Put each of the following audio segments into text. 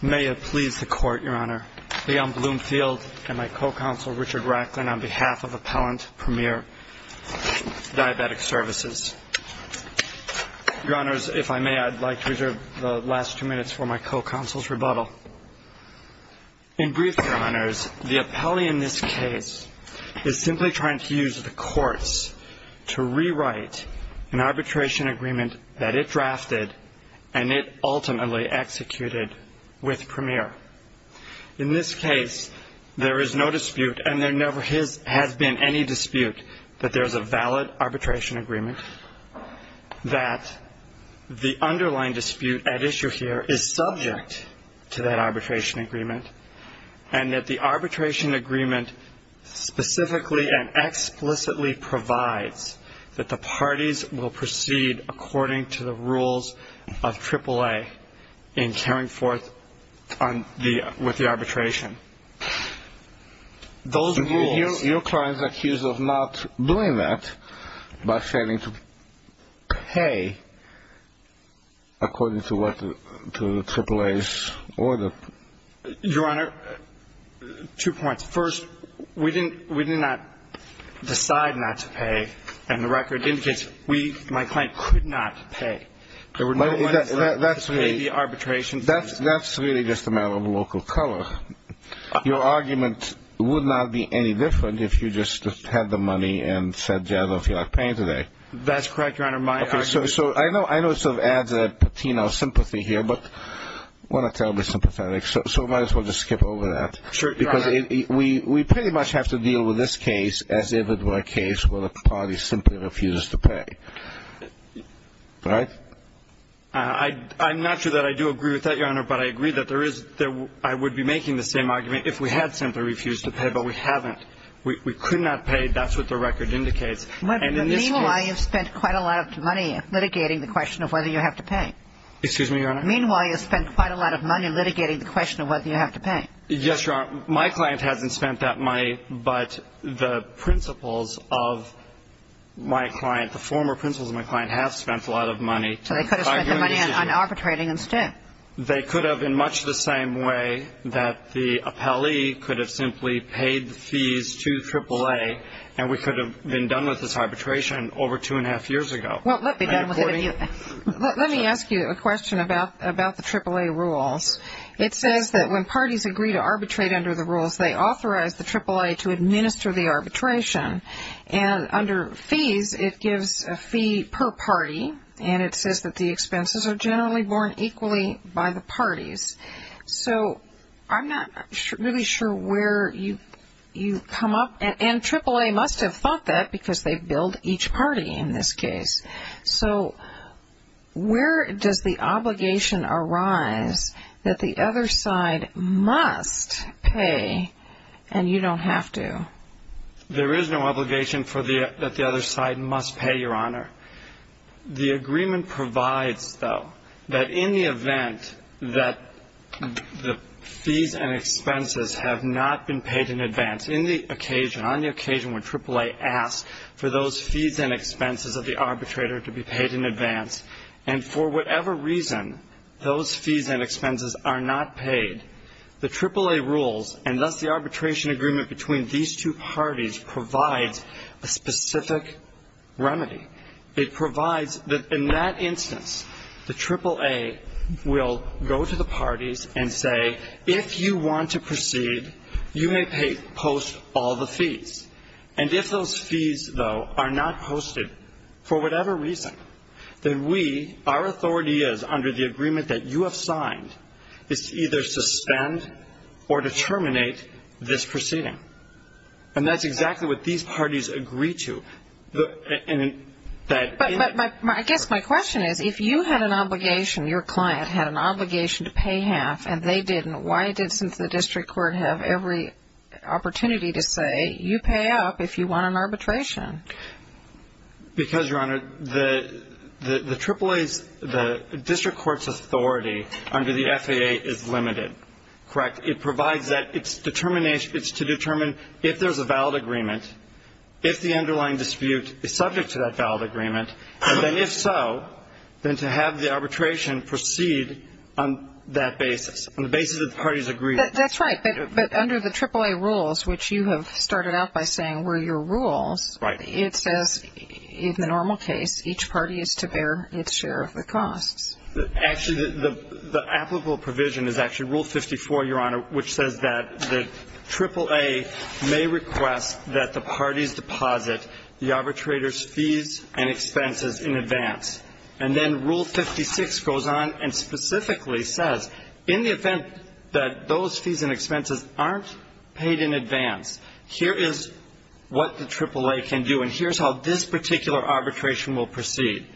May it please the Court, Your Honor. Leon Bloomfield and my co-counsel Richard Racklin on behalf of Appellant Premier Diabetic Services. Your Honors, if I may, I'd like to reserve the last two minutes for my co-counsel's rebuttal. In brief, Your Honors, the appellee in this case is simply trying to use the courts to rewrite an arbitration agreement that it drafted and it ultimately executed with Premier. In this case, there is no dispute, and there never has been any dispute, that there is a valid arbitration agreement, that the underlying dispute at issue here is subject to that arbitration agreement, and that the arbitration agreement specifically and explicitly provides that the parties will proceed according to the rules of AAA in carrying forth with the arbitration. Your client is accused of not doing that by failing to pay according to AAA's order. Your Honor, two points. First, we did not decide not to pay, and the record indicates my client could not pay. There were no letters to pay the arbitration fees. That's really just a matter of local color. Your argument would not be any different if you just had the money and said, yes, I feel like paying today. That's correct, Your Honor. Okay, so I know it sort of adds a patina of sympathy here, but we're not terribly sympathetic, so we might as well just skip over that. Sure. Because we pretty much have to deal with this case as if it were a case where the party simply refuses to pay. Right? I'm not sure that I do agree with that, Your Honor, but I agree that I would be making the same argument if we had simply refused to pay, but we haven't. We could not pay. That's what the record indicates. Meanwhile, you've spent quite a lot of money litigating the question of whether you have to pay. Excuse me, Your Honor? Meanwhile, you've spent quite a lot of money litigating the question of whether you have to pay. Yes, Your Honor. My client hasn't spent that money, but the principles of my client, the former principles of my client have spent a lot of money. So they could have spent the money on arbitrating instead. They could have in much the same way that the appellee could have simply paid the fees to AAA, and we could have been done with this arbitration over two and a half years ago. Well, let me ask you a question about the AAA rules. It says that when parties agree to arbitrate under the rules, they authorize the AAA to administer the arbitration, and under fees, it gives a fee per party, and it says that the expenses are generally borne equally by the parties. So I'm not really sure where you come up, and AAA must have thought that because they billed each party in this case. So where does the obligation arise that the other side must pay and you don't have to? There is no obligation that the other side must pay, Your Honor. The agreement provides, though, that in the event that the fees and expenses have not been paid in advance, on the occasion when AAA asks for those fees and expenses of the arbitrator to be paid in advance, and for whatever reason those fees and expenses are not paid, the AAA rules, and thus the arbitration agreement between these two parties, provides a specific remedy. It provides that in that instance, the AAA will go to the parties and say, if you want to proceed, you may post all the fees. And if those fees, though, are not posted for whatever reason, then we, our authority is under the agreement that you have signed, is to either suspend or to terminate this proceeding. And that's exactly what these parties agree to. But I guess my question is, if you had an obligation, your client had an obligation to pay half and they didn't, why did the district court have every opportunity to say, you pay up if you want an arbitration? Because, Your Honor, the AAA's, the district court's authority under the FAA is limited. Correct? It provides that it's determination, it's to determine if there's a valid agreement, if the underlying dispute is subject to that valid agreement, and then if so, then to have the arbitration proceed on that basis, on the basis that the parties agree. That's right. But under the AAA rules, which you have started out by saying were your rules, it says, in the normal case, each party is to bear its share of the costs. Actually, the applicable provision is actually Rule 54, Your Honor, which says that the AAA may request that the parties deposit the arbitrator's fees and expenses in advance. And then Rule 56 goes on and specifically says, in the event that those fees and expenses aren't paid in advance, here is what the AAA can do, and here's how this particular arbitration will proceed.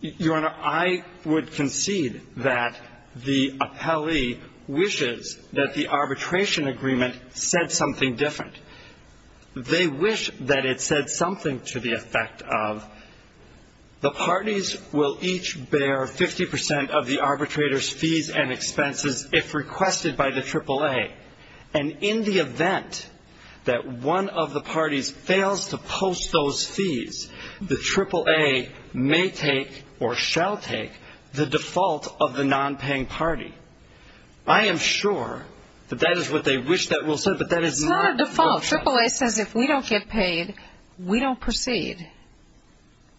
Your Honor, I would concede that the appellee wishes that the arbitration agreement said something different. They wish that it said something to the effect of, the parties will each bear 50 percent of the arbitrator's fees and expenses if requested by the AAA. And in the event that one of the parties fails to post those fees, the AAA may take or shall take the default of the nonpaying party. I am sure that that is what they wish that Rule said, but that is not what it says. It's not a default. AAA says if we don't get paid, we don't proceed.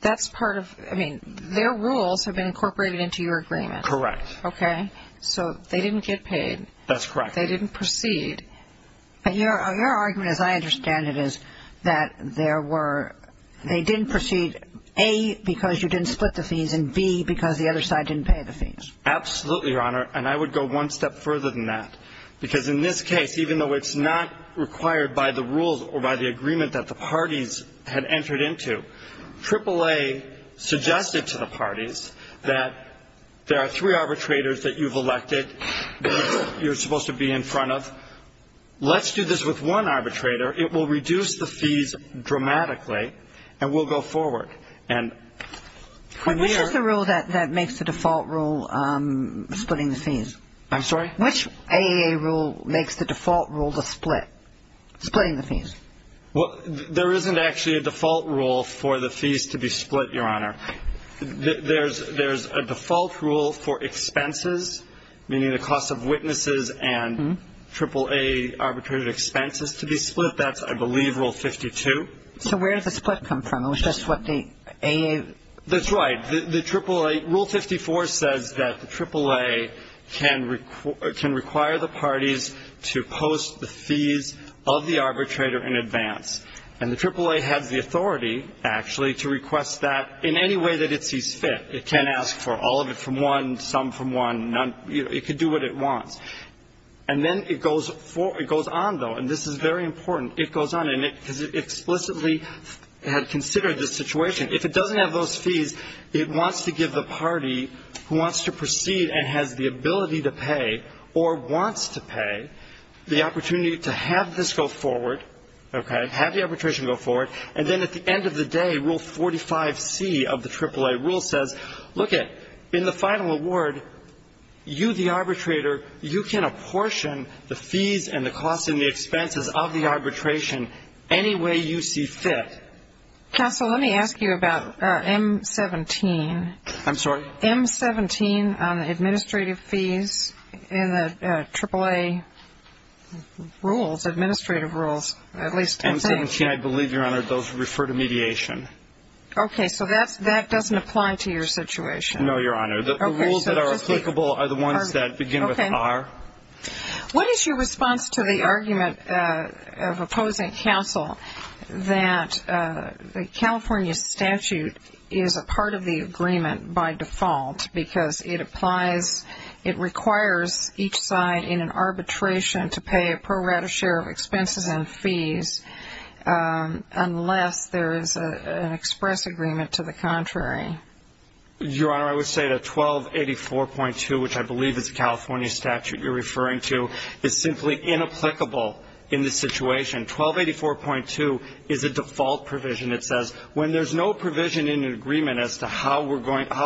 That's part of, I mean, their rules have been incorporated into your agreement. Correct. Okay? So they didn't get paid. That's correct. They didn't proceed. But your argument, as I understand it, is that there were, they didn't proceed, A, because you didn't split the fees, and B, because the other side didn't pay the fees. Absolutely, Your Honor, and I would go one step further than that, because in this case, even though it's not required by the rules or by the agreement that the parties had entered into, AAA suggested to the parties that there are three arbitrators that you've elected, that you're supposed to be in front of. Let's do this with one arbitrator. It will reduce the fees dramatically, and we'll go forward. Which is the rule that makes the default rule splitting the fees? I'm sorry? Which AAA rule makes the default rule the split, splitting the fees? Well, there isn't actually a default rule for the fees to be split, Your Honor. There's a default rule for expenses, meaning the cost of witnesses and AAA arbitrator expenses to be split. That's, I believe, Rule 52. So where did the split come from? It was just what the AA? That's right. The AAA, Rule 54 says that the AAA can require the parties to post the fees of the arbitrator in advance. And the AAA has the authority, actually, to request that in any way that it sees fit. It can't ask for all of it from one, some from one, none. It can do what it wants. And then it goes on, though, and this is very important. It goes on, and it explicitly had considered this situation. If it doesn't have those fees, it wants to give the party who wants to proceed and has the ability to pay or wants to pay the opportunity to have this go forward, okay, have the arbitration go forward. And then at the end of the day, Rule 45C of the AAA rule says, look it, in the final award, you the arbitrator, you can apportion the fees and the costs and the expenses of the arbitration any way you see fit. Counsel, let me ask you about M17. I'm sorry? M17 on the administrative fees in the AAA rules, administrative rules, at least two things. M17, I believe, Your Honor, those refer to mediation. Okay, so that doesn't apply to your situation. No, Your Honor. The rules that are applicable are the ones that begin with R. What is your response to the argument of opposing counsel that the California statute is a part of the agreement by default because it applies, it requires each side in an arbitration to pay a pro rata share of expenses and fees unless there is an express agreement to the contrary? Your Honor, I would say that 1284.2, which I believe is the California statute you're referring to, is simply inapplicable in this situation. 1284.2 is a default provision. It says when there's no provision in an agreement as to how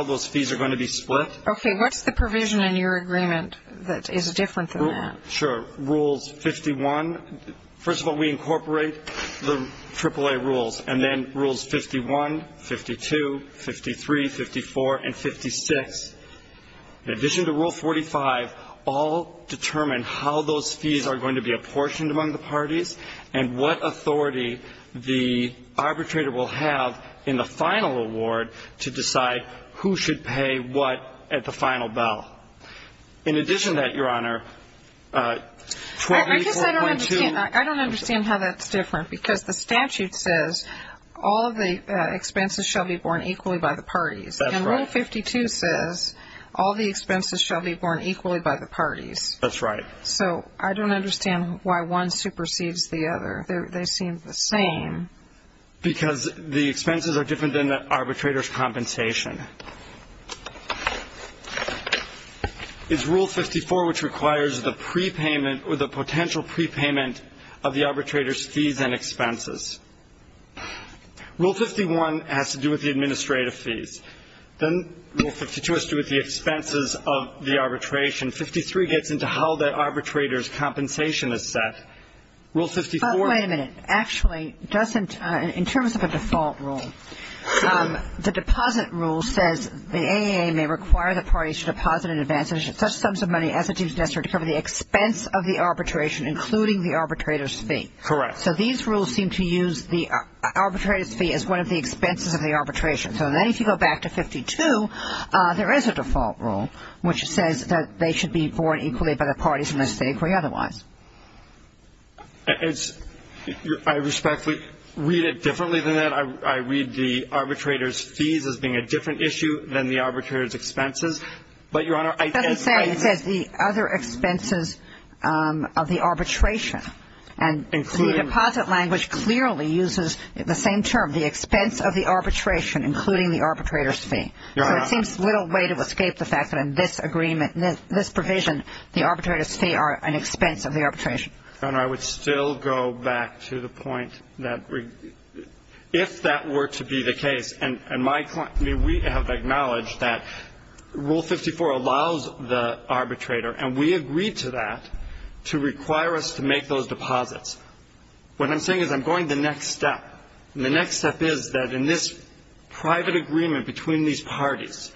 those fees are going to be split. Okay, what's the provision in your agreement that is different than that? Sure, Rules 51. First of all, we incorporate the AAA rules, and then Rules 51, 52, 53, 54, and 56. In addition to Rule 45, all determine how those fees are going to be apportioned among the parties and what authority the arbitrator will have in the final award to decide who should pay what at the final ballot. In addition to that, Your Honor, 1284.2 ---- I guess I don't understand how that's different because the statute says all the expenses shall be borne equally by the parties. That's right. And Rule 52 says all the expenses shall be borne equally by the parties. That's right. So I don't understand why one supersedes the other. They seem the same. Because the expenses are different than the arbitrator's compensation. It's Rule 54 which requires the prepayment or the potential prepayment of the arbitrator's fees and expenses. Rule 51 has to do with the administrative fees. Then Rule 52 has to do with the expenses of the arbitration. 53 gets into how the arbitrator's compensation is set. Rule 54 ---- But wait a minute. Actually, doesn't ---- in terms of a default rule, the deposit rule says the AAA may require the parties to deposit in advance such sums of money as it is necessary to cover the expense of the arbitration, including the arbitrator's fee. Correct. So these rules seem to use the arbitrator's fee as one of the expenses of the arbitration. So then if you go back to 52, there is a default rule which says that they should be borne equally by the parties unless they agree otherwise. I respectfully read it differently than that. I read the arbitrator's fees as being a different issue than the arbitrator's expenses. But, Your Honor, I ---- It doesn't say. It says the other expenses of the arbitration. And the deposit language clearly uses the same term, the expense of the arbitration, including the arbitrator's fee. Your Honor ---- So it seems little way to escape the fact that in this agreement, in this provision, the arbitrator's fee are an expense of the arbitration. Your Honor, I would still go back to the point that if that were to be the case, and my point ---- I mean, we have acknowledged that Rule 54 allows the arbitrator, and we agreed to that, to require us to make those deposits. What I'm saying is I'm going to the next step. And the next step is that in this private agreement between these parties,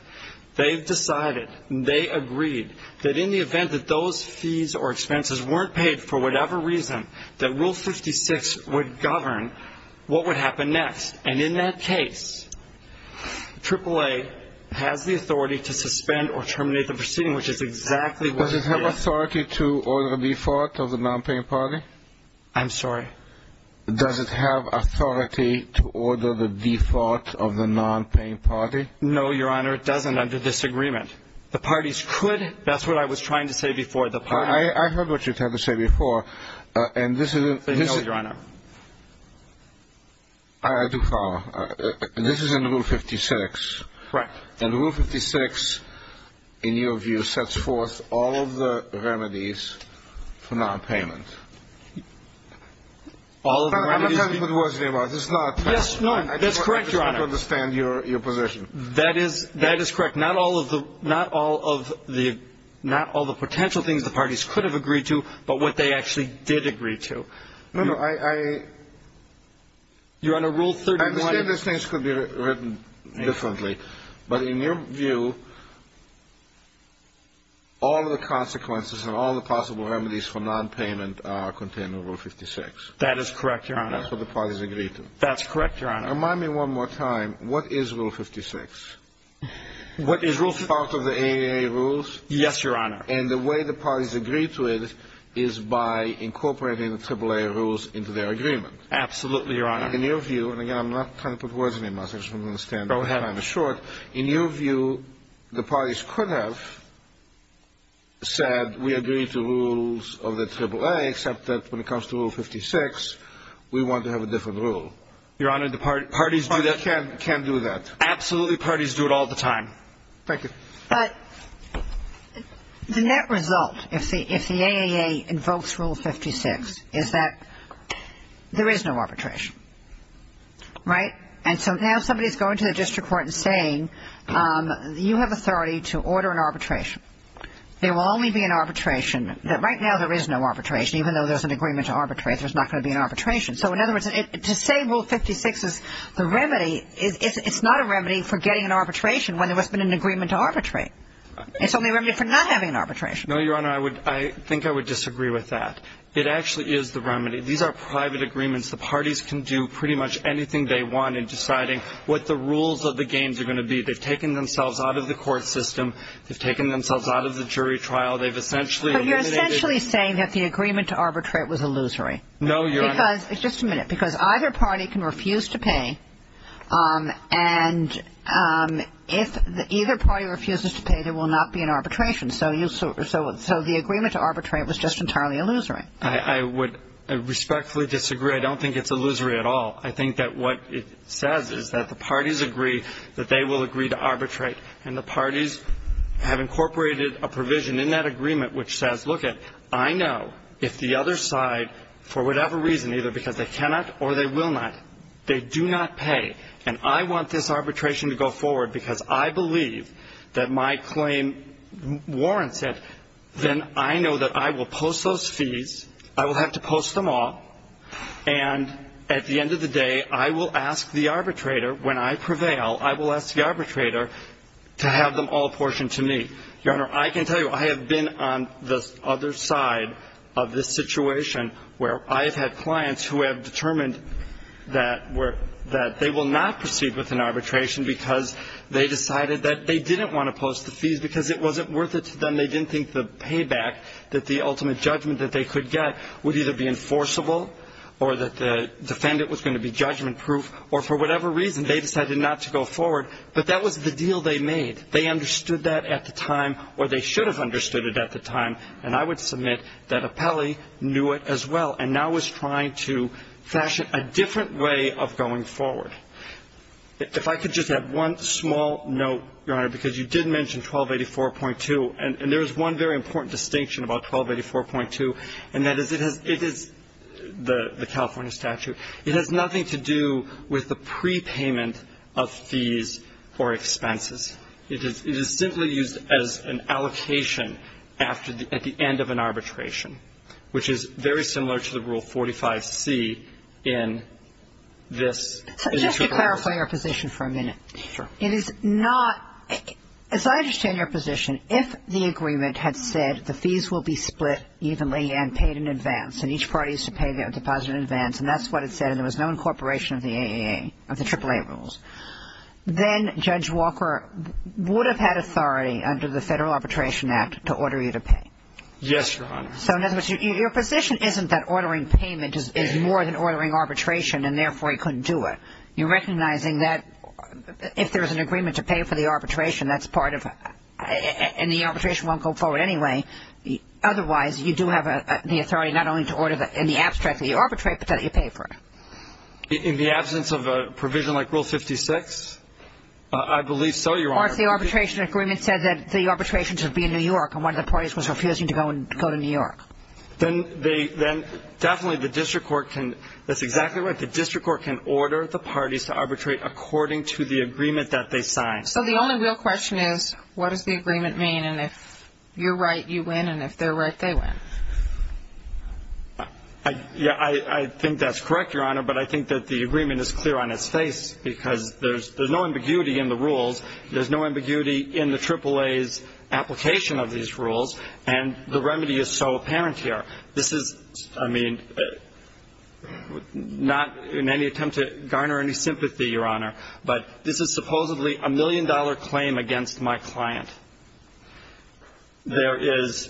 they've decided and they agreed that in the event that those fees or expenses weren't paid for whatever reason, that Rule 56 would govern what would happen next. And in that case, AAA has the authority to suspend or terminate the proceeding, which is exactly what ---- Does it have authority to order the default of the nonpaying party? I'm sorry? Does it have authority to order the default of the nonpaying party? No, Your Honor, it doesn't under this agreement. The parties could. That's what I was trying to say before. I heard what you were trying to say before. And this is in ---- No, Your Honor. I do follow. This is in Rule 56. Correct. And Rule 56, in your view, sets forth all of the remedies for nonpayment. All of the remedies ---- I'm not talking about what it was. It's not ---- Yes, no, that's correct, Your Honor. I just want to understand your position. That is correct. Not all of the potential things the parties could have agreed to, but what they actually did agree to. No, no, I ---- Your Honor, Rule 31 ---- I understand those things could be written differently, but in your view, all of the consequences and all of the possible remedies for nonpayment are contained in Rule 56. That is correct, Your Honor. That's what the parties agreed to. That's correct, Your Honor. Remind me one more time. What is Rule 56? What is Rule 56? Is it part of the AAA rules? Yes, Your Honor. And the way the parties agreed to it is by incorporating the AAA rules into their agreement. Absolutely, Your Honor. In your view, and again, I'm not trying to put words in your mouth. I just want to understand. Go ahead. In your view, the parties could have said, we agree to rules of the AAA, except that when it comes to Rule 56, we want to have a different rule. Your Honor, the parties do that. Parties can do that. Absolutely, parties do it all the time. Thank you. But the net result, if the AAA invokes Rule 56, is that there is no arbitration. Right? And so now somebody is going to the district court and saying, you have authority to order an arbitration. There will only be an arbitration. Right now there is no arbitration. Even though there's an agreement to arbitrate, there's not going to be an arbitration. So in other words, to say Rule 56 is the remedy, it's not a remedy for getting an arbitration when there hasn't been an agreement to arbitrate. It's only a remedy for not having an arbitration. No, Your Honor. I think I would disagree with that. It actually is the remedy. These are private agreements. The parties can do pretty much anything they want in deciding what the rules of the games are going to be. They've taken themselves out of the court system. They've taken themselves out of the jury trial. They've essentially eliminated. But you're essentially saying that the agreement to arbitrate was illusory. No, Your Honor. Just a minute. Because either party can refuse to pay, and if either party refuses to pay, there will not be an arbitration. So the agreement to arbitrate was just entirely illusory. I would respectfully disagree. I don't think it's illusory at all. I think that what it says is that the parties agree that they will agree to arbitrate, and the parties have incorporated a provision in that agreement which says, I know if the other side, for whatever reason, either because they cannot or they will not, they do not pay, and I want this arbitration to go forward because I believe that my claim warrants it, then I know that I will post those fees. I will have to post them all. And at the end of the day, I will ask the arbitrator, when I prevail, I will ask the arbitrator to have them all apportioned to me. Your Honor, I can tell you I have been on the other side of this situation where I have had clients who have determined that they will not proceed with an arbitration because they decided that they didn't want to post the fees because it wasn't worth it to them. They didn't think the payback, that the ultimate judgment that they could get, would either be enforceable or that the defendant was going to be judgment-proof, or for whatever reason, they decided not to go forward. But that was the deal they made. They understood that at the time, or they should have understood it at the time, and I would submit that Apelli knew it as well and now is trying to fashion a different way of going forward. If I could just add one small note, Your Honor, because you did mention 1284.2, and there is one very important distinction about 1284.2, and that is it has – it is the California statute. It has nothing to do with the prepayment of fees or expenses. It is simply used as an allocation after the – at the end of an arbitration, which is very similar to the Rule 45C in this case. So just to clarify your position for a minute. Sure. It is not – as I understand your position, if the agreement had said the fees will be split evenly and paid in advance, and each party is to pay their deposit in advance, and that's what it said, and there was no incorporation of the AAA rules, then Judge Walker would have had authority under the Federal Arbitration Act to order you to pay. Yes, Your Honor. So in other words, your position isn't that ordering payment is more than ordering arbitration and therefore he couldn't do it. You're recognizing that if there is an agreement to pay for the arbitration, that's part of – and the arbitration won't go forward anyway. Otherwise, you do have the authority not only to order in the abstract that you arbitrate, but that you pay for it. In the absence of a provision like Rule 56? I believe so, Your Honor. Or if the arbitration agreement said that the arbitration should be in New York and one of the parties was refusing to go to New York. Then they – then definitely the district court can – that's exactly right. The district court can order the parties to arbitrate according to the agreement that they signed. So the only real question is, what does the agreement mean? And if you're right, you win, and if they're right, they win. Yeah, I think that's correct, Your Honor, but I think that the agreement is clear on its face because there's no ambiguity in the rules. There's no ambiguity in the AAA's application of these rules, and the remedy is so apparent here. This is, I mean, not in any attempt to garner any sympathy, Your Honor, but this is supposedly a million-dollar claim against my client. There is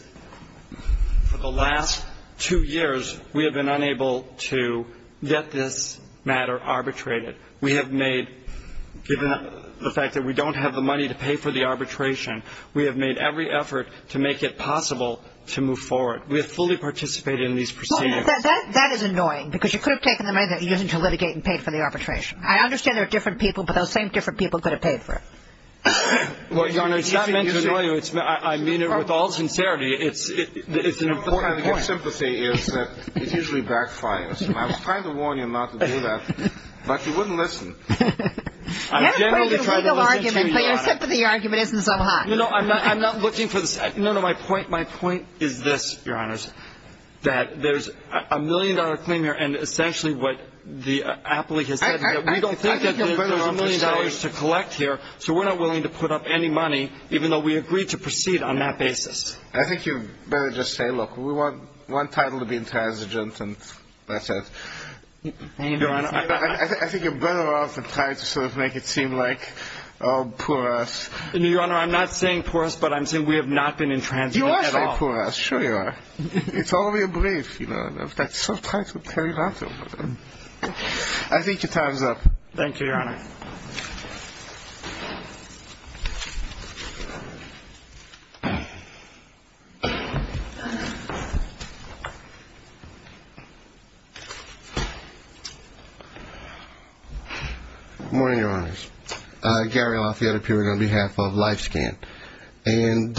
– for the last two years, we have been unable to get this matter arbitrated. We have made – given the fact that we don't have the money to pay for the arbitration, we have made every effort to make it possible to move forward. We have fully participated in these proceedings. That is annoying because you could have taken the money that you're using to litigate and paid for the arbitration. I understand there are different people, but those same different people could have paid for it. Well, Your Honor, it's not meant to annoy you. I mean it with all sincerity. It's an important point. Your sympathy is that it usually backfires, and I was trying to warn you not to do that, but you wouldn't listen. You have a pretty good legal argument, but your sympathy argument isn't so hot. You know, I'm not looking for the – no, no, my point is this, Your Honors, that there's a million-dollar claim here, and essentially what the appellee has said, we don't think that there's a million dollars to collect here, so we're not willing to put up any money, even though we agreed to proceed on that basis. I think you better just say, look, we want title to be intransigent, and that's it. I think you're better off than trying to sort of make it seem like, oh, poor us. No, Your Honor, I'm not saying poor us, but I'm saying we have not been intransigent at all. No, poor us, sure you are. It's only a brief, you know, and I've got some title to tell you about. I think your time's up. Thank you, Your Honor. Good morning, Your Honors. Gary Lafayette appearing on behalf of LifeScan, and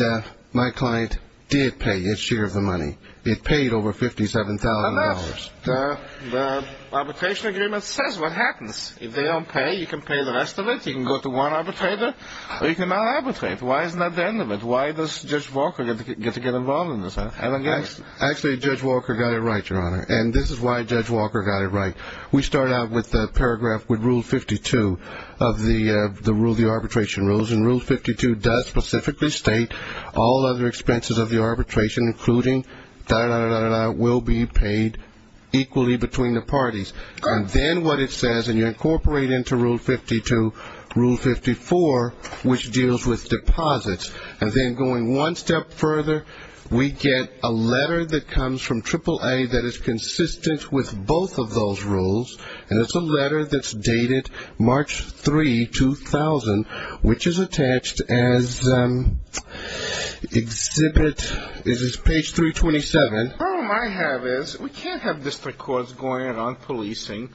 my client did pay its share of the money. It paid over $57,000. But that's – the arbitration agreement says what happens. If they don't pay, you can pay the rest of it. You can go to one arbitrator, or you can mal-arbitrate. Why isn't that the end of it? Why does Judge Walker get to get involved in this? Actually, Judge Walker got it right, Your Honor, and this is why Judge Walker got it right. We start out with the paragraph with Rule 52 of the arbitration rules, and Rule 52 does specifically state all other expenses of the arbitration, including da-da-da-da-da-da, will be paid equally between the parties. And then what it says, and you incorporate into Rule 52, Rule 54, which deals with deposits, and then going one step further, we get a letter that comes from AAA that is consistent with both of those rules, and it's a letter that's dated March 3, 2000, which is attached as Exhibit – this is page 327. The problem I have is we can't have district courts going around policing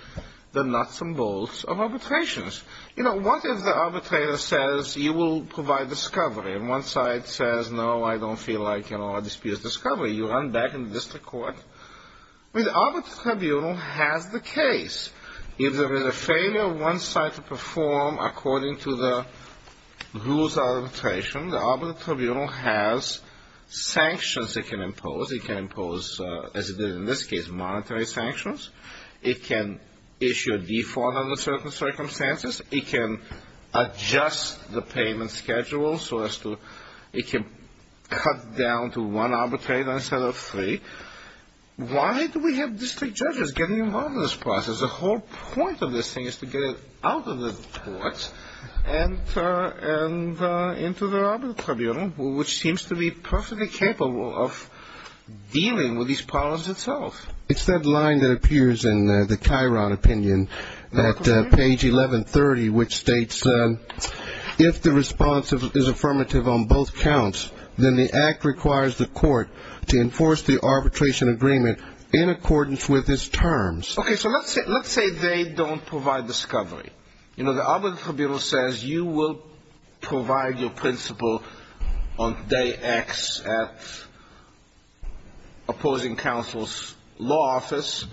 the nuts and bolts of arbitrations. You know, what if the arbitrator says, you will provide discovery, and one side says, no, I don't feel like, you know, I dispute discovery. You run back in the district court. I mean, the Arbitrary Tribunal has the case. If there is a failure of one side to perform according to the rules of arbitration, the Arbitrary Tribunal has sanctions it can impose. It can impose, as it did in this case, monetary sanctions. It can issue a default under certain circumstances. It can adjust the payment schedule so as to – it can cut down to one arbitrator instead of three. Why do we have district judges getting involved in this process? The whole point of this thing is to get it out of the courts and into the Arbitrary Tribunal, which seems to be perfectly capable of dealing with these problems itself. It's that line that appears in the Chiron opinion at page 1130, which states, if the response is affirmative on both counts, then the act requires the court to enforce the arbitration agreement in accordance with its terms. Okay. So let's say they don't provide discovery. You know, the Arbitrary Tribunal says you will provide your principle on day X at opposing counsel's law office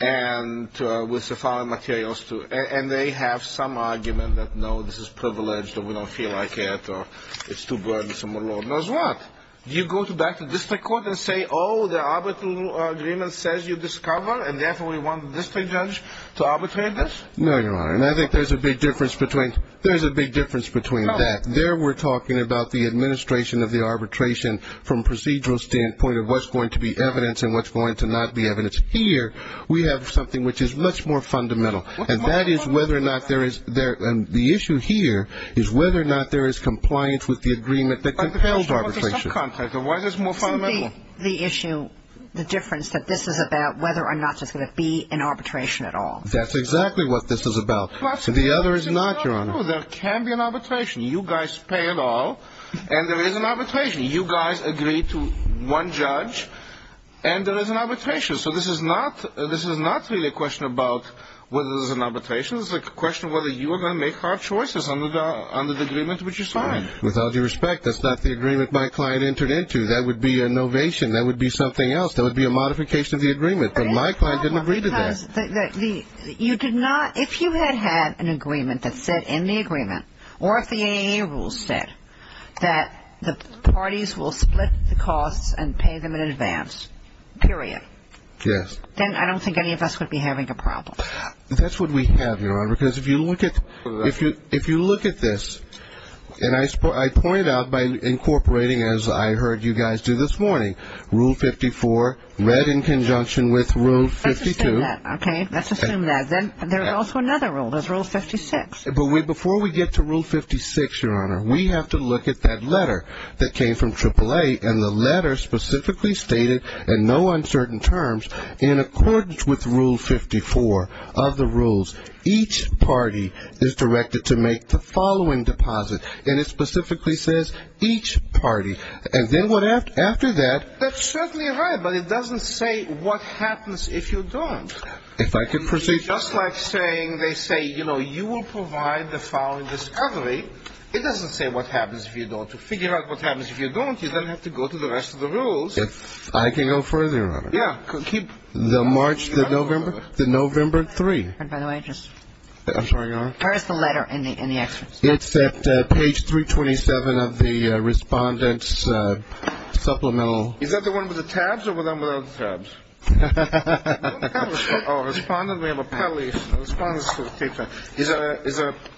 and with the following materials, too. And they have some argument that, no, this is privileged, or we don't feel like it, or it's too burdensome, or Lord knows what. Do you go back to district court and say, oh, the arbitral agreement says you discover, and therefore we want the district judge to arbitrate this? No, Your Honor. And I think there's a big difference between that. There we're talking about the administration of the arbitration from a procedural standpoint of what's going to be evidence and what's going to not be evidence. Here we have something which is much more fundamental, and that is whether or not there is the issue here is whether or not there is compliance with the agreement that compels arbitration. Why is this more fundamental? The issue, the difference that this is about whether or not there's going to be an arbitration at all. That's exactly what this is about. The other is not, Your Honor. There can be an arbitration. You guys pay it all, and there is an arbitration. You guys agree to one judge, and there is an arbitration. So this is not really a question about whether there's an arbitration. It's a question of whether you are going to make hard choices under the agreement which you signed. With all due respect, that's not the agreement my client entered into. That would be a novation. That would be something else. That would be a modification of the agreement. But my client didn't agree to that. You did not, if you had had an agreement that said in the agreement or if the AAA rules said that the parties will split the costs and pay them in advance, period. Yes. Then I don't think any of us would be having a problem. That's what we have, Your Honor, because if you look at this, and I point out by incorporating as I heard you guys do this morning, Rule 54 read in conjunction with Rule 52. Let's assume that, okay? Let's assume that. Then there's also another rule. There's Rule 56. But before we get to Rule 56, Your Honor, we have to look at that letter that came from AAA, and the letter specifically stated in no uncertain terms, in accordance with Rule 54 of the rules, each party is directed to make the following deposit. And it specifically says each party. And then after that. That's certainly right, but it doesn't say what happens if you don't. If I could proceed. Just like saying they say, you know, you will provide the following discovery, it doesn't say what happens if you don't. To figure out what happens if you don't, you then have to go to the rest of the rules. I can go further, Your Honor. Yeah. The March, the November, the November 3. And by the way, just. I'm sorry, Your Honor? Where is the letter in the excerpt? It's at page 327 of the respondent's supplemental. Is that the one with the tabs or the one without the tabs? Respondent, we have an appellee.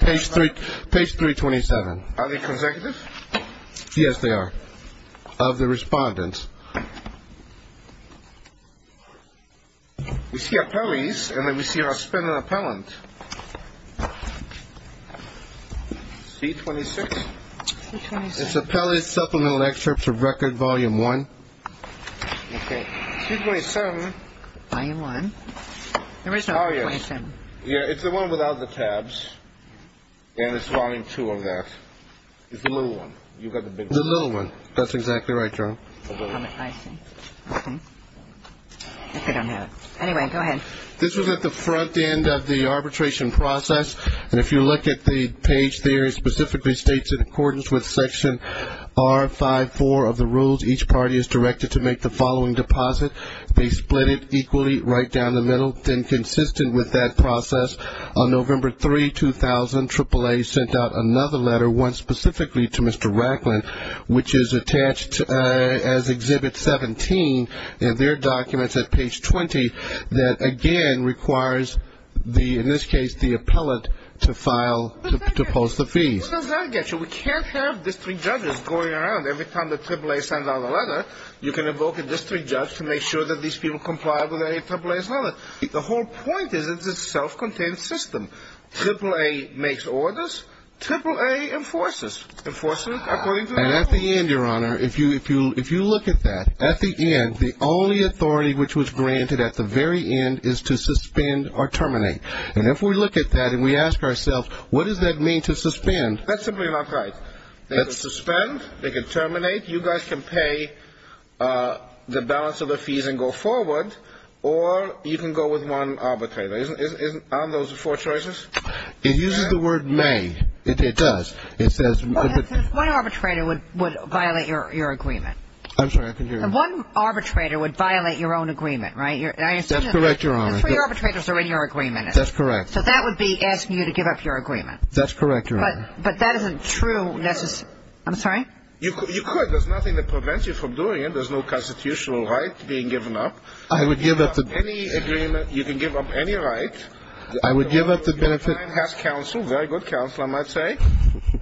Page 327. Are they consecutive? Yes, they are. Of the respondent. We see appellees, and then we see our spin on appellant. C26. It's appellee supplemental excerpt for record volume one. Okay. C27. Volume one. There is no 27. Yeah, it's the one without the tabs. And it's volume two of that. It's the little one. You've got the big one. The little one. That's exactly right, Your Honor. Okay. I don't have it. Anyway, go ahead. This was at the front end of the arbitration process. And if you look at the page there, it specifically states in accordance with Section R54 of the rules, each party is directed to make the following deposit. They split it equally right down the middle. Then consistent with that process, on November 3, 2000, Triple A sent out another letter, one specifically to Mr. Racklin, which is attached as Exhibit 17 in their documents at page 20, that again requires, in this case, the appellant to file, to post the fee. Who does that get you? We can't have district judges going around. Every time that Triple A sends out a letter, you can invoke a district judge to make sure that these people comply with any Triple A's law. The whole point is it's a self-contained system. Triple A makes orders. Triple A enforces, enforces according to the law. And at the end, Your Honor, if you look at that, at the end, the only authority which was granted at the very end is to suspend or terminate. And if we look at that and we ask ourselves, what does that mean to suspend? That's simply not right. They can suspend. They can terminate. You guys can pay the balance of the fees and go forward, or you can go with one arbitrator. Aren't those the four choices? It uses the word may. It does. It says... One arbitrator would violate your agreement. I'm sorry. I can hear you. One arbitrator would violate your own agreement, right? That's correct, Your Honor. The three arbitrators are in your agreement. That's correct. So that would be asking you to give up your agreement. That's correct, Your Honor. But that isn't true necessarily. I'm sorry? You could. There's nothing that prevents you from doing it. There's no constitutional right being given up. I would give up the... You can give up any right. I would give up the benefit... Your client has counsel, very good counsel, I might say,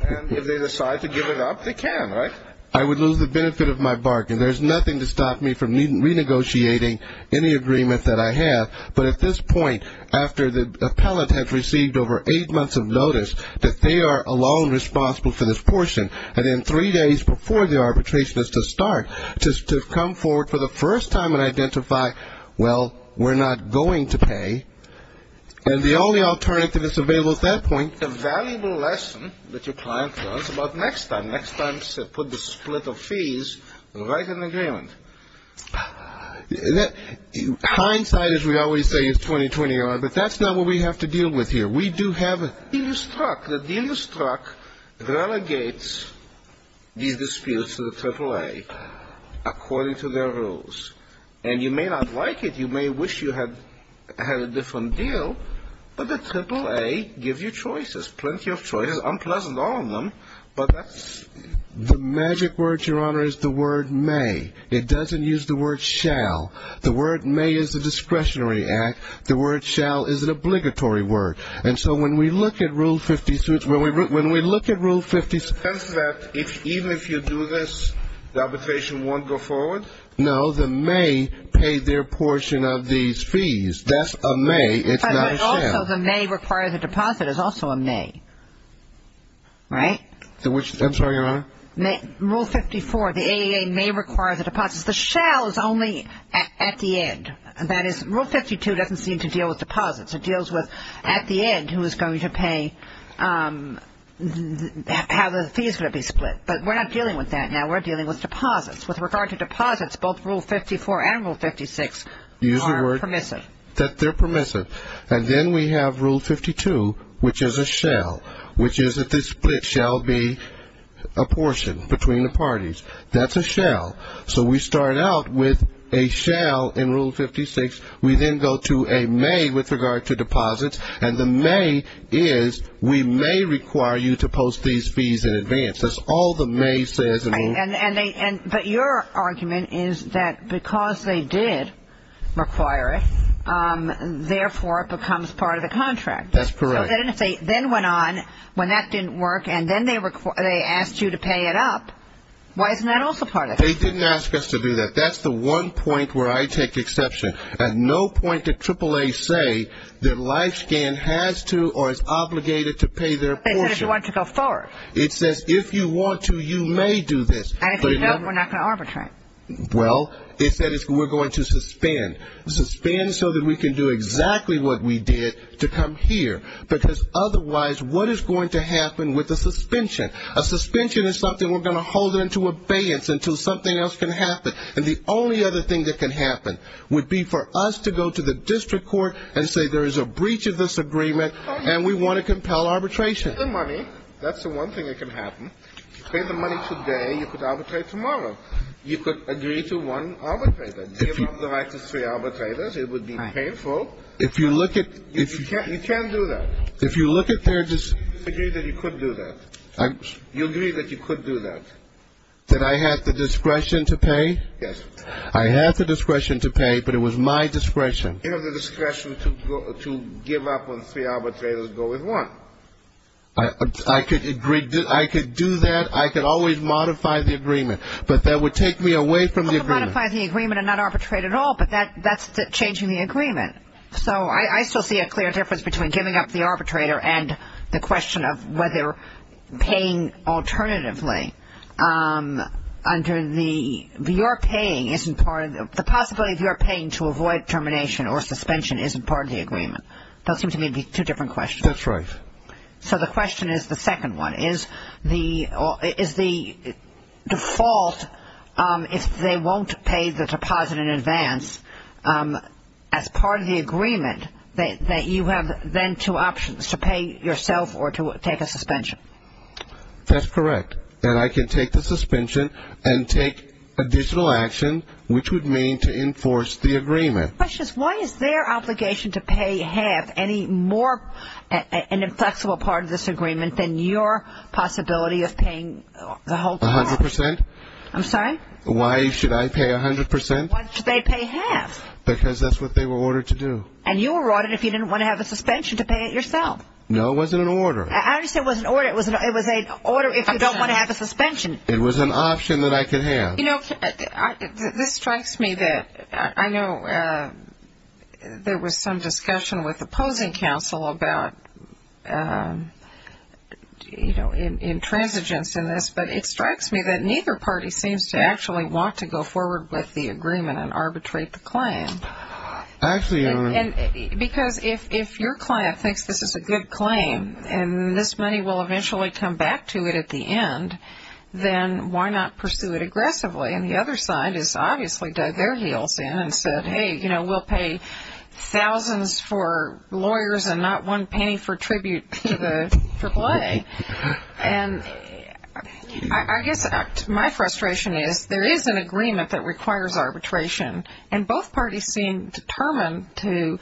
and if they decide to give it up, they can, right? I would lose the benefit of my bargain. There's nothing to stop me from renegotiating any agreement that I have. But at this point, after the appellant has received over eight months of notice that they are alone responsible for this portion, and then three days before the arbitration is to start, to come forward for the first time and identify, well, we're not going to pay, and the only alternative that's available at that point... The valuable lesson that your client learns about next time, next time put the split of fees right in the agreement. Hindsight, as we always say, is 20-20, Your Honor, but that's not what we have to deal with here. We do have... The deal you struck, the deal you struck, relegates these disputes to the AAA according to their rules. And you may not like it, you may wish you had a different deal, but the AAA give you choices, plenty of choices, unpleasant all of them, but that's... The magic word, Your Honor, is the word may. It doesn't use the word shall. The word may is a discretionary act. The word shall is an obligatory word. And so when we look at Rule 56, when we look at Rule 56... Does that, even if you do this, the arbitration won't go forward? No, the may pay their portion of these fees. That's a may, it's not a shall. But also the may require the deposit is also a may, right? I'm sorry, Your Honor? Rule 54, the AAA may require the deposits. The shall is only at the end. That is, Rule 52 doesn't seem to deal with deposits. It deals with at the end who is going to pay, how the fees are going to be split. But we're not dealing with that now. We're dealing with deposits. With regard to deposits, both Rule 54 and Rule 56 are permissive. Use the word that they're permissive. And then we have Rule 52, which is a shall, which is that the split shall be a portion between the parties. That's a shall. So we start out with a shall in Rule 56. We then go to a may with regard to deposits. And the may is we may require you to post these fees in advance. That's all the may says. But your argument is that because they did require it, therefore it becomes part of the contract. That's correct. So then it went on when that didn't work, and then they asked you to pay it up. Why isn't that also part of it? They didn't ask us to do that. But that's the one point where I take exception. At no point did AAA say that LifeScan has to or is obligated to pay their portion. They said if you want to go forward. It says if you want to, you may do this. And if you don't, we're not going to arbitrate. Well, it said we're going to suspend. Suspend so that we can do exactly what we did to come here. Because otherwise, what is going to happen with the suspension? A suspension is something we're going to hold it into abeyance until something else can happen. And the only other thing that can happen would be for us to go to the district court and say there is a breach of this agreement, and we want to compel arbitration. Pay the money. That's the one thing that can happen. Pay the money today. You could arbitrate tomorrow. You could agree to one arbitrator. Give up the right to three arbitrators. It would be painful. If you look at. You can't do that. If you look at their. I agree that you could do that. You agree that you could do that. That I have the discretion to pay? Yes. I have the discretion to pay, but it was my discretion. You have the discretion to give up on three arbitrators and go with one. I could do that. I could always modify the agreement. But that would take me away from the agreement. Modify the agreement and not arbitrate at all, but that's changing the agreement. So I still see a clear difference between giving up the arbitrator and the question of whether paying alternatively under the. Your paying isn't part of. The possibility of your paying to avoid termination or suspension isn't part of the agreement. Those seem to me to be two different questions. That's right. So the question is the second one. Is the default, if they won't pay the deposit in advance, as part of the agreement, that you have then two options, to pay yourself or to take a suspension? That's correct. And I can take the suspension and take additional action, which would mean to enforce the agreement. My question is why is their obligation to pay half any more inflexible part of this agreement than your possibility of paying the whole. A hundred percent. I'm sorry? Why should I pay a hundred percent? Why should they pay half? Because that's what they were ordered to do. And you were ordered if you didn't want to have a suspension to pay it yourself. No, it wasn't an order. I understand it wasn't an order. It was an order if you don't want to have a suspension. It was an option that I could have. You know, this strikes me that I know there was some discussion with opposing counsel about intransigence in this, but it strikes me that neither party seems to actually want to go forward with the agreement and arbitrate the claim. Because if your client thinks this is a good claim and this money will eventually come back to it at the end, then why not pursue it aggressively? And the other side has obviously dug their heels in and said, hey, you know, we'll pay thousands for lawyers and not one penny for tribute to the AAA. And I guess my frustration is there is an agreement that requires arbitration, and both parties seem determined to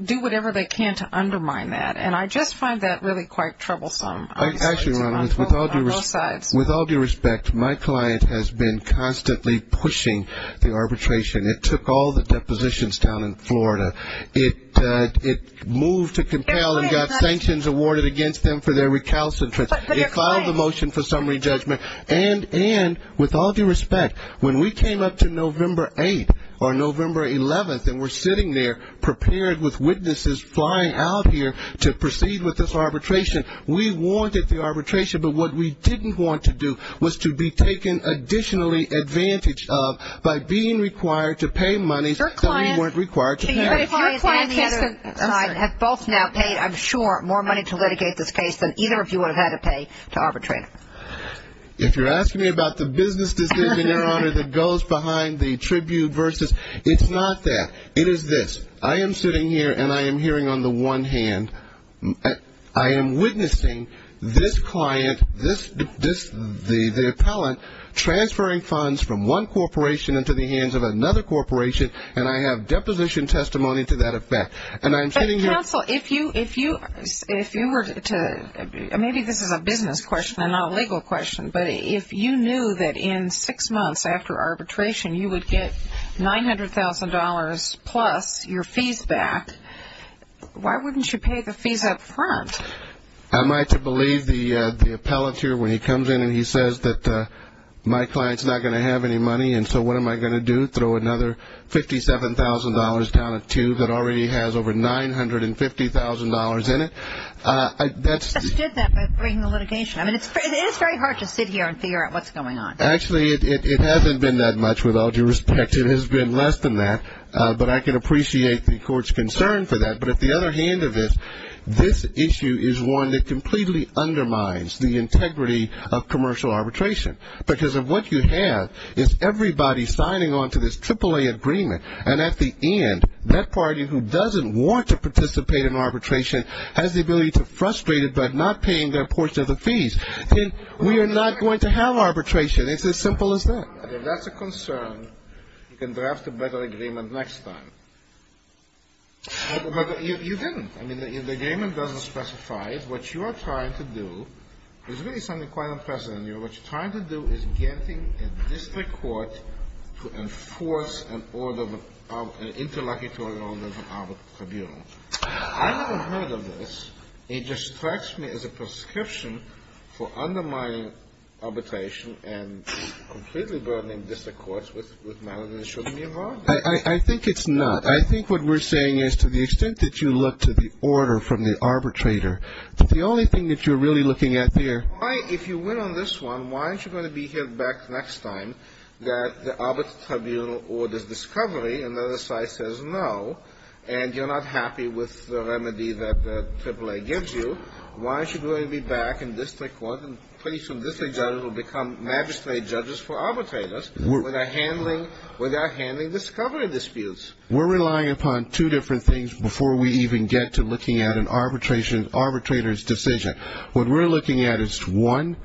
do whatever they can to undermine that. And I just find that really quite troublesome. Actually, with all due respect, my client has been constantly pushing the arbitration. It took all the depositions down in Florida. It moved to compel and got sanctions awarded against them for their recalcitrance. It filed a motion for summary judgment. And with all due respect, when we came up to November 8th or November 11th and were sitting there prepared with witnesses flying out here to proceed with this arbitration, we wanted the arbitration. But what we didn't want to do was to be taken additionally advantage of by being required to pay monies that we weren't required to pay. Your client and the other side have both now paid, I'm sure, more money to litigate this case than either of you would have had to pay to arbitrate it. If you're asking me about the business decision, Your Honor, that goes behind the tribute versus, it's not that. It is this. I am sitting here and I am hearing on the one hand. I am witnessing this client, this, the appellant, transferring funds from one corporation into the hands of another corporation, and I have deposition testimony to that effect. And I'm sitting here. Counsel, if you were to, maybe this is a business question and not a legal question, but if you knew that in six months after arbitration you would get $900,000 plus your fees back, why wouldn't you pay the fees up front? Am I to believe the appellant here when he comes in and he says that my client's not going to have any money and so what am I going to do, throw another $57,000 down a tube that already has over $950,000 in it? I understood that by bringing the litigation. I mean, it is very hard to sit here and figure out what's going on. Actually, it hasn't been that much, with all due respect. It has been less than that, but I can appreciate the court's concern for that. But at the other hand of this, this issue is one that completely undermines the integrity of commercial arbitration because of what you have is everybody signing on to this AAA agreement, and at the end that party who doesn't want to participate in arbitration has the ability to frustrate it by not paying their portion of the fees. We are not going to have arbitration. It's as simple as that. If that's a concern, you can draft a better agreement next time. But you didn't. I mean, the agreement doesn't specify it. What you are trying to do is really something quite unprecedented. What you're trying to do is getting a district court to enforce an order, an interlocutory order from our tribunal. I haven't heard of this. It just strikes me as a prescription for undermining arbitration and completely burdening district courts with matters that shouldn't be involved in it. I think it's not. I think what we're saying is to the extent that you look to the order from the arbitrator, the only thing that you're really looking at there. Why, if you win on this one, why aren't you going to be here back next time that the Arbiter Tribunal orders discovery and the other side says no, and you're not happy with the remedy that AAA gives you, why aren't you going to be back in district court and pretty soon district judges will become magistrate judges for arbitrators without handling discovery disputes? We're relying upon two different things before we even get to looking at an arbitrator's decision. What we're looking at is, one,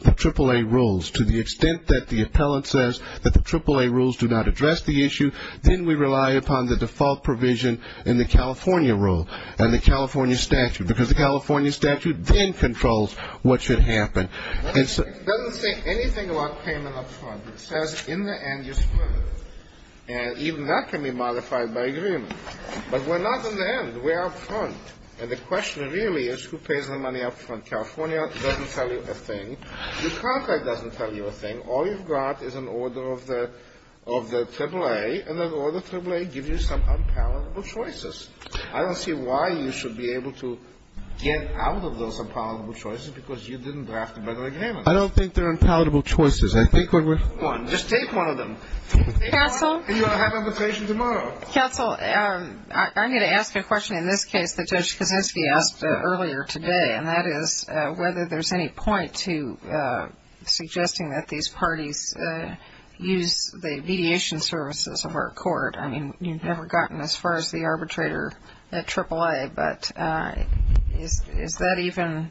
the AAA rules. To the extent that the appellant says that the AAA rules do not address the issue, then we rely upon the default provision in the California rule and the California statute, because the California statute then controls what should happen. It doesn't say anything about payment up front. It says in the end you split it, and even that can be modified by agreement. But we're not in the end. We're up front, and the question really is who pays the money up front. California doesn't tell you a thing. The contract doesn't tell you a thing. All you've got is an order of the AAA, and that order of AAA gives you some unpalatable choices. I don't see why you should be able to get out of those unpalatable choices because you didn't draft a better agreement. I don't think they're unpalatable choices. I think when we're ---- Go on. Just take one of them. Counsel? And you'll have an invitation tomorrow. Counsel, I'm going to ask a question in this case that Judge Kosinski asked earlier today, and that is whether there's any point to suggesting that these parties use the mediation services of our court. I mean, you've never gotten as far as the arbitrator at AAA, but is that even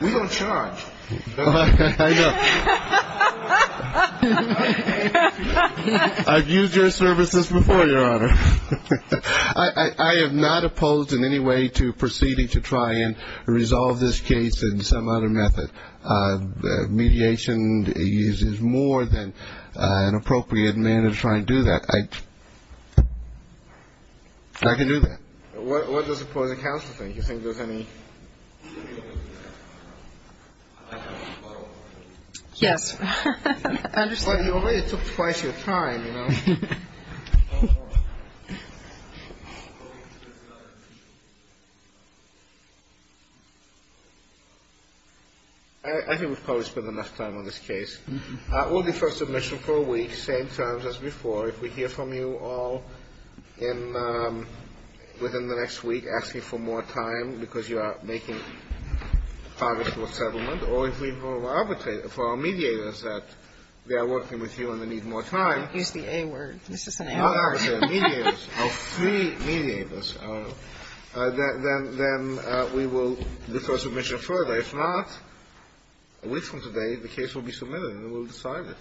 ---- We don't charge. I know. I've used your services before, Your Honor. I have not opposed in any way to proceeding to try and resolve this case in some other method. Mediation uses more than an appropriate manner to try and do that. I can do that. What does opposing counsel think? Do you think there's any ---- Yes. I understand. You already took twice your time, you know. I think we've probably spent enough time on this case. We'll defer submission for a week, same terms as before. If we hear from you all within the next week, ask me for more time because you are making progress with settlement, or if we vote for our mediators that they are working with you and they need more time. Use the A word. This is an A word. Our mediators, our three mediators, then we will defer submission further. If not, a week from today, the case will be submitted and we will decide it.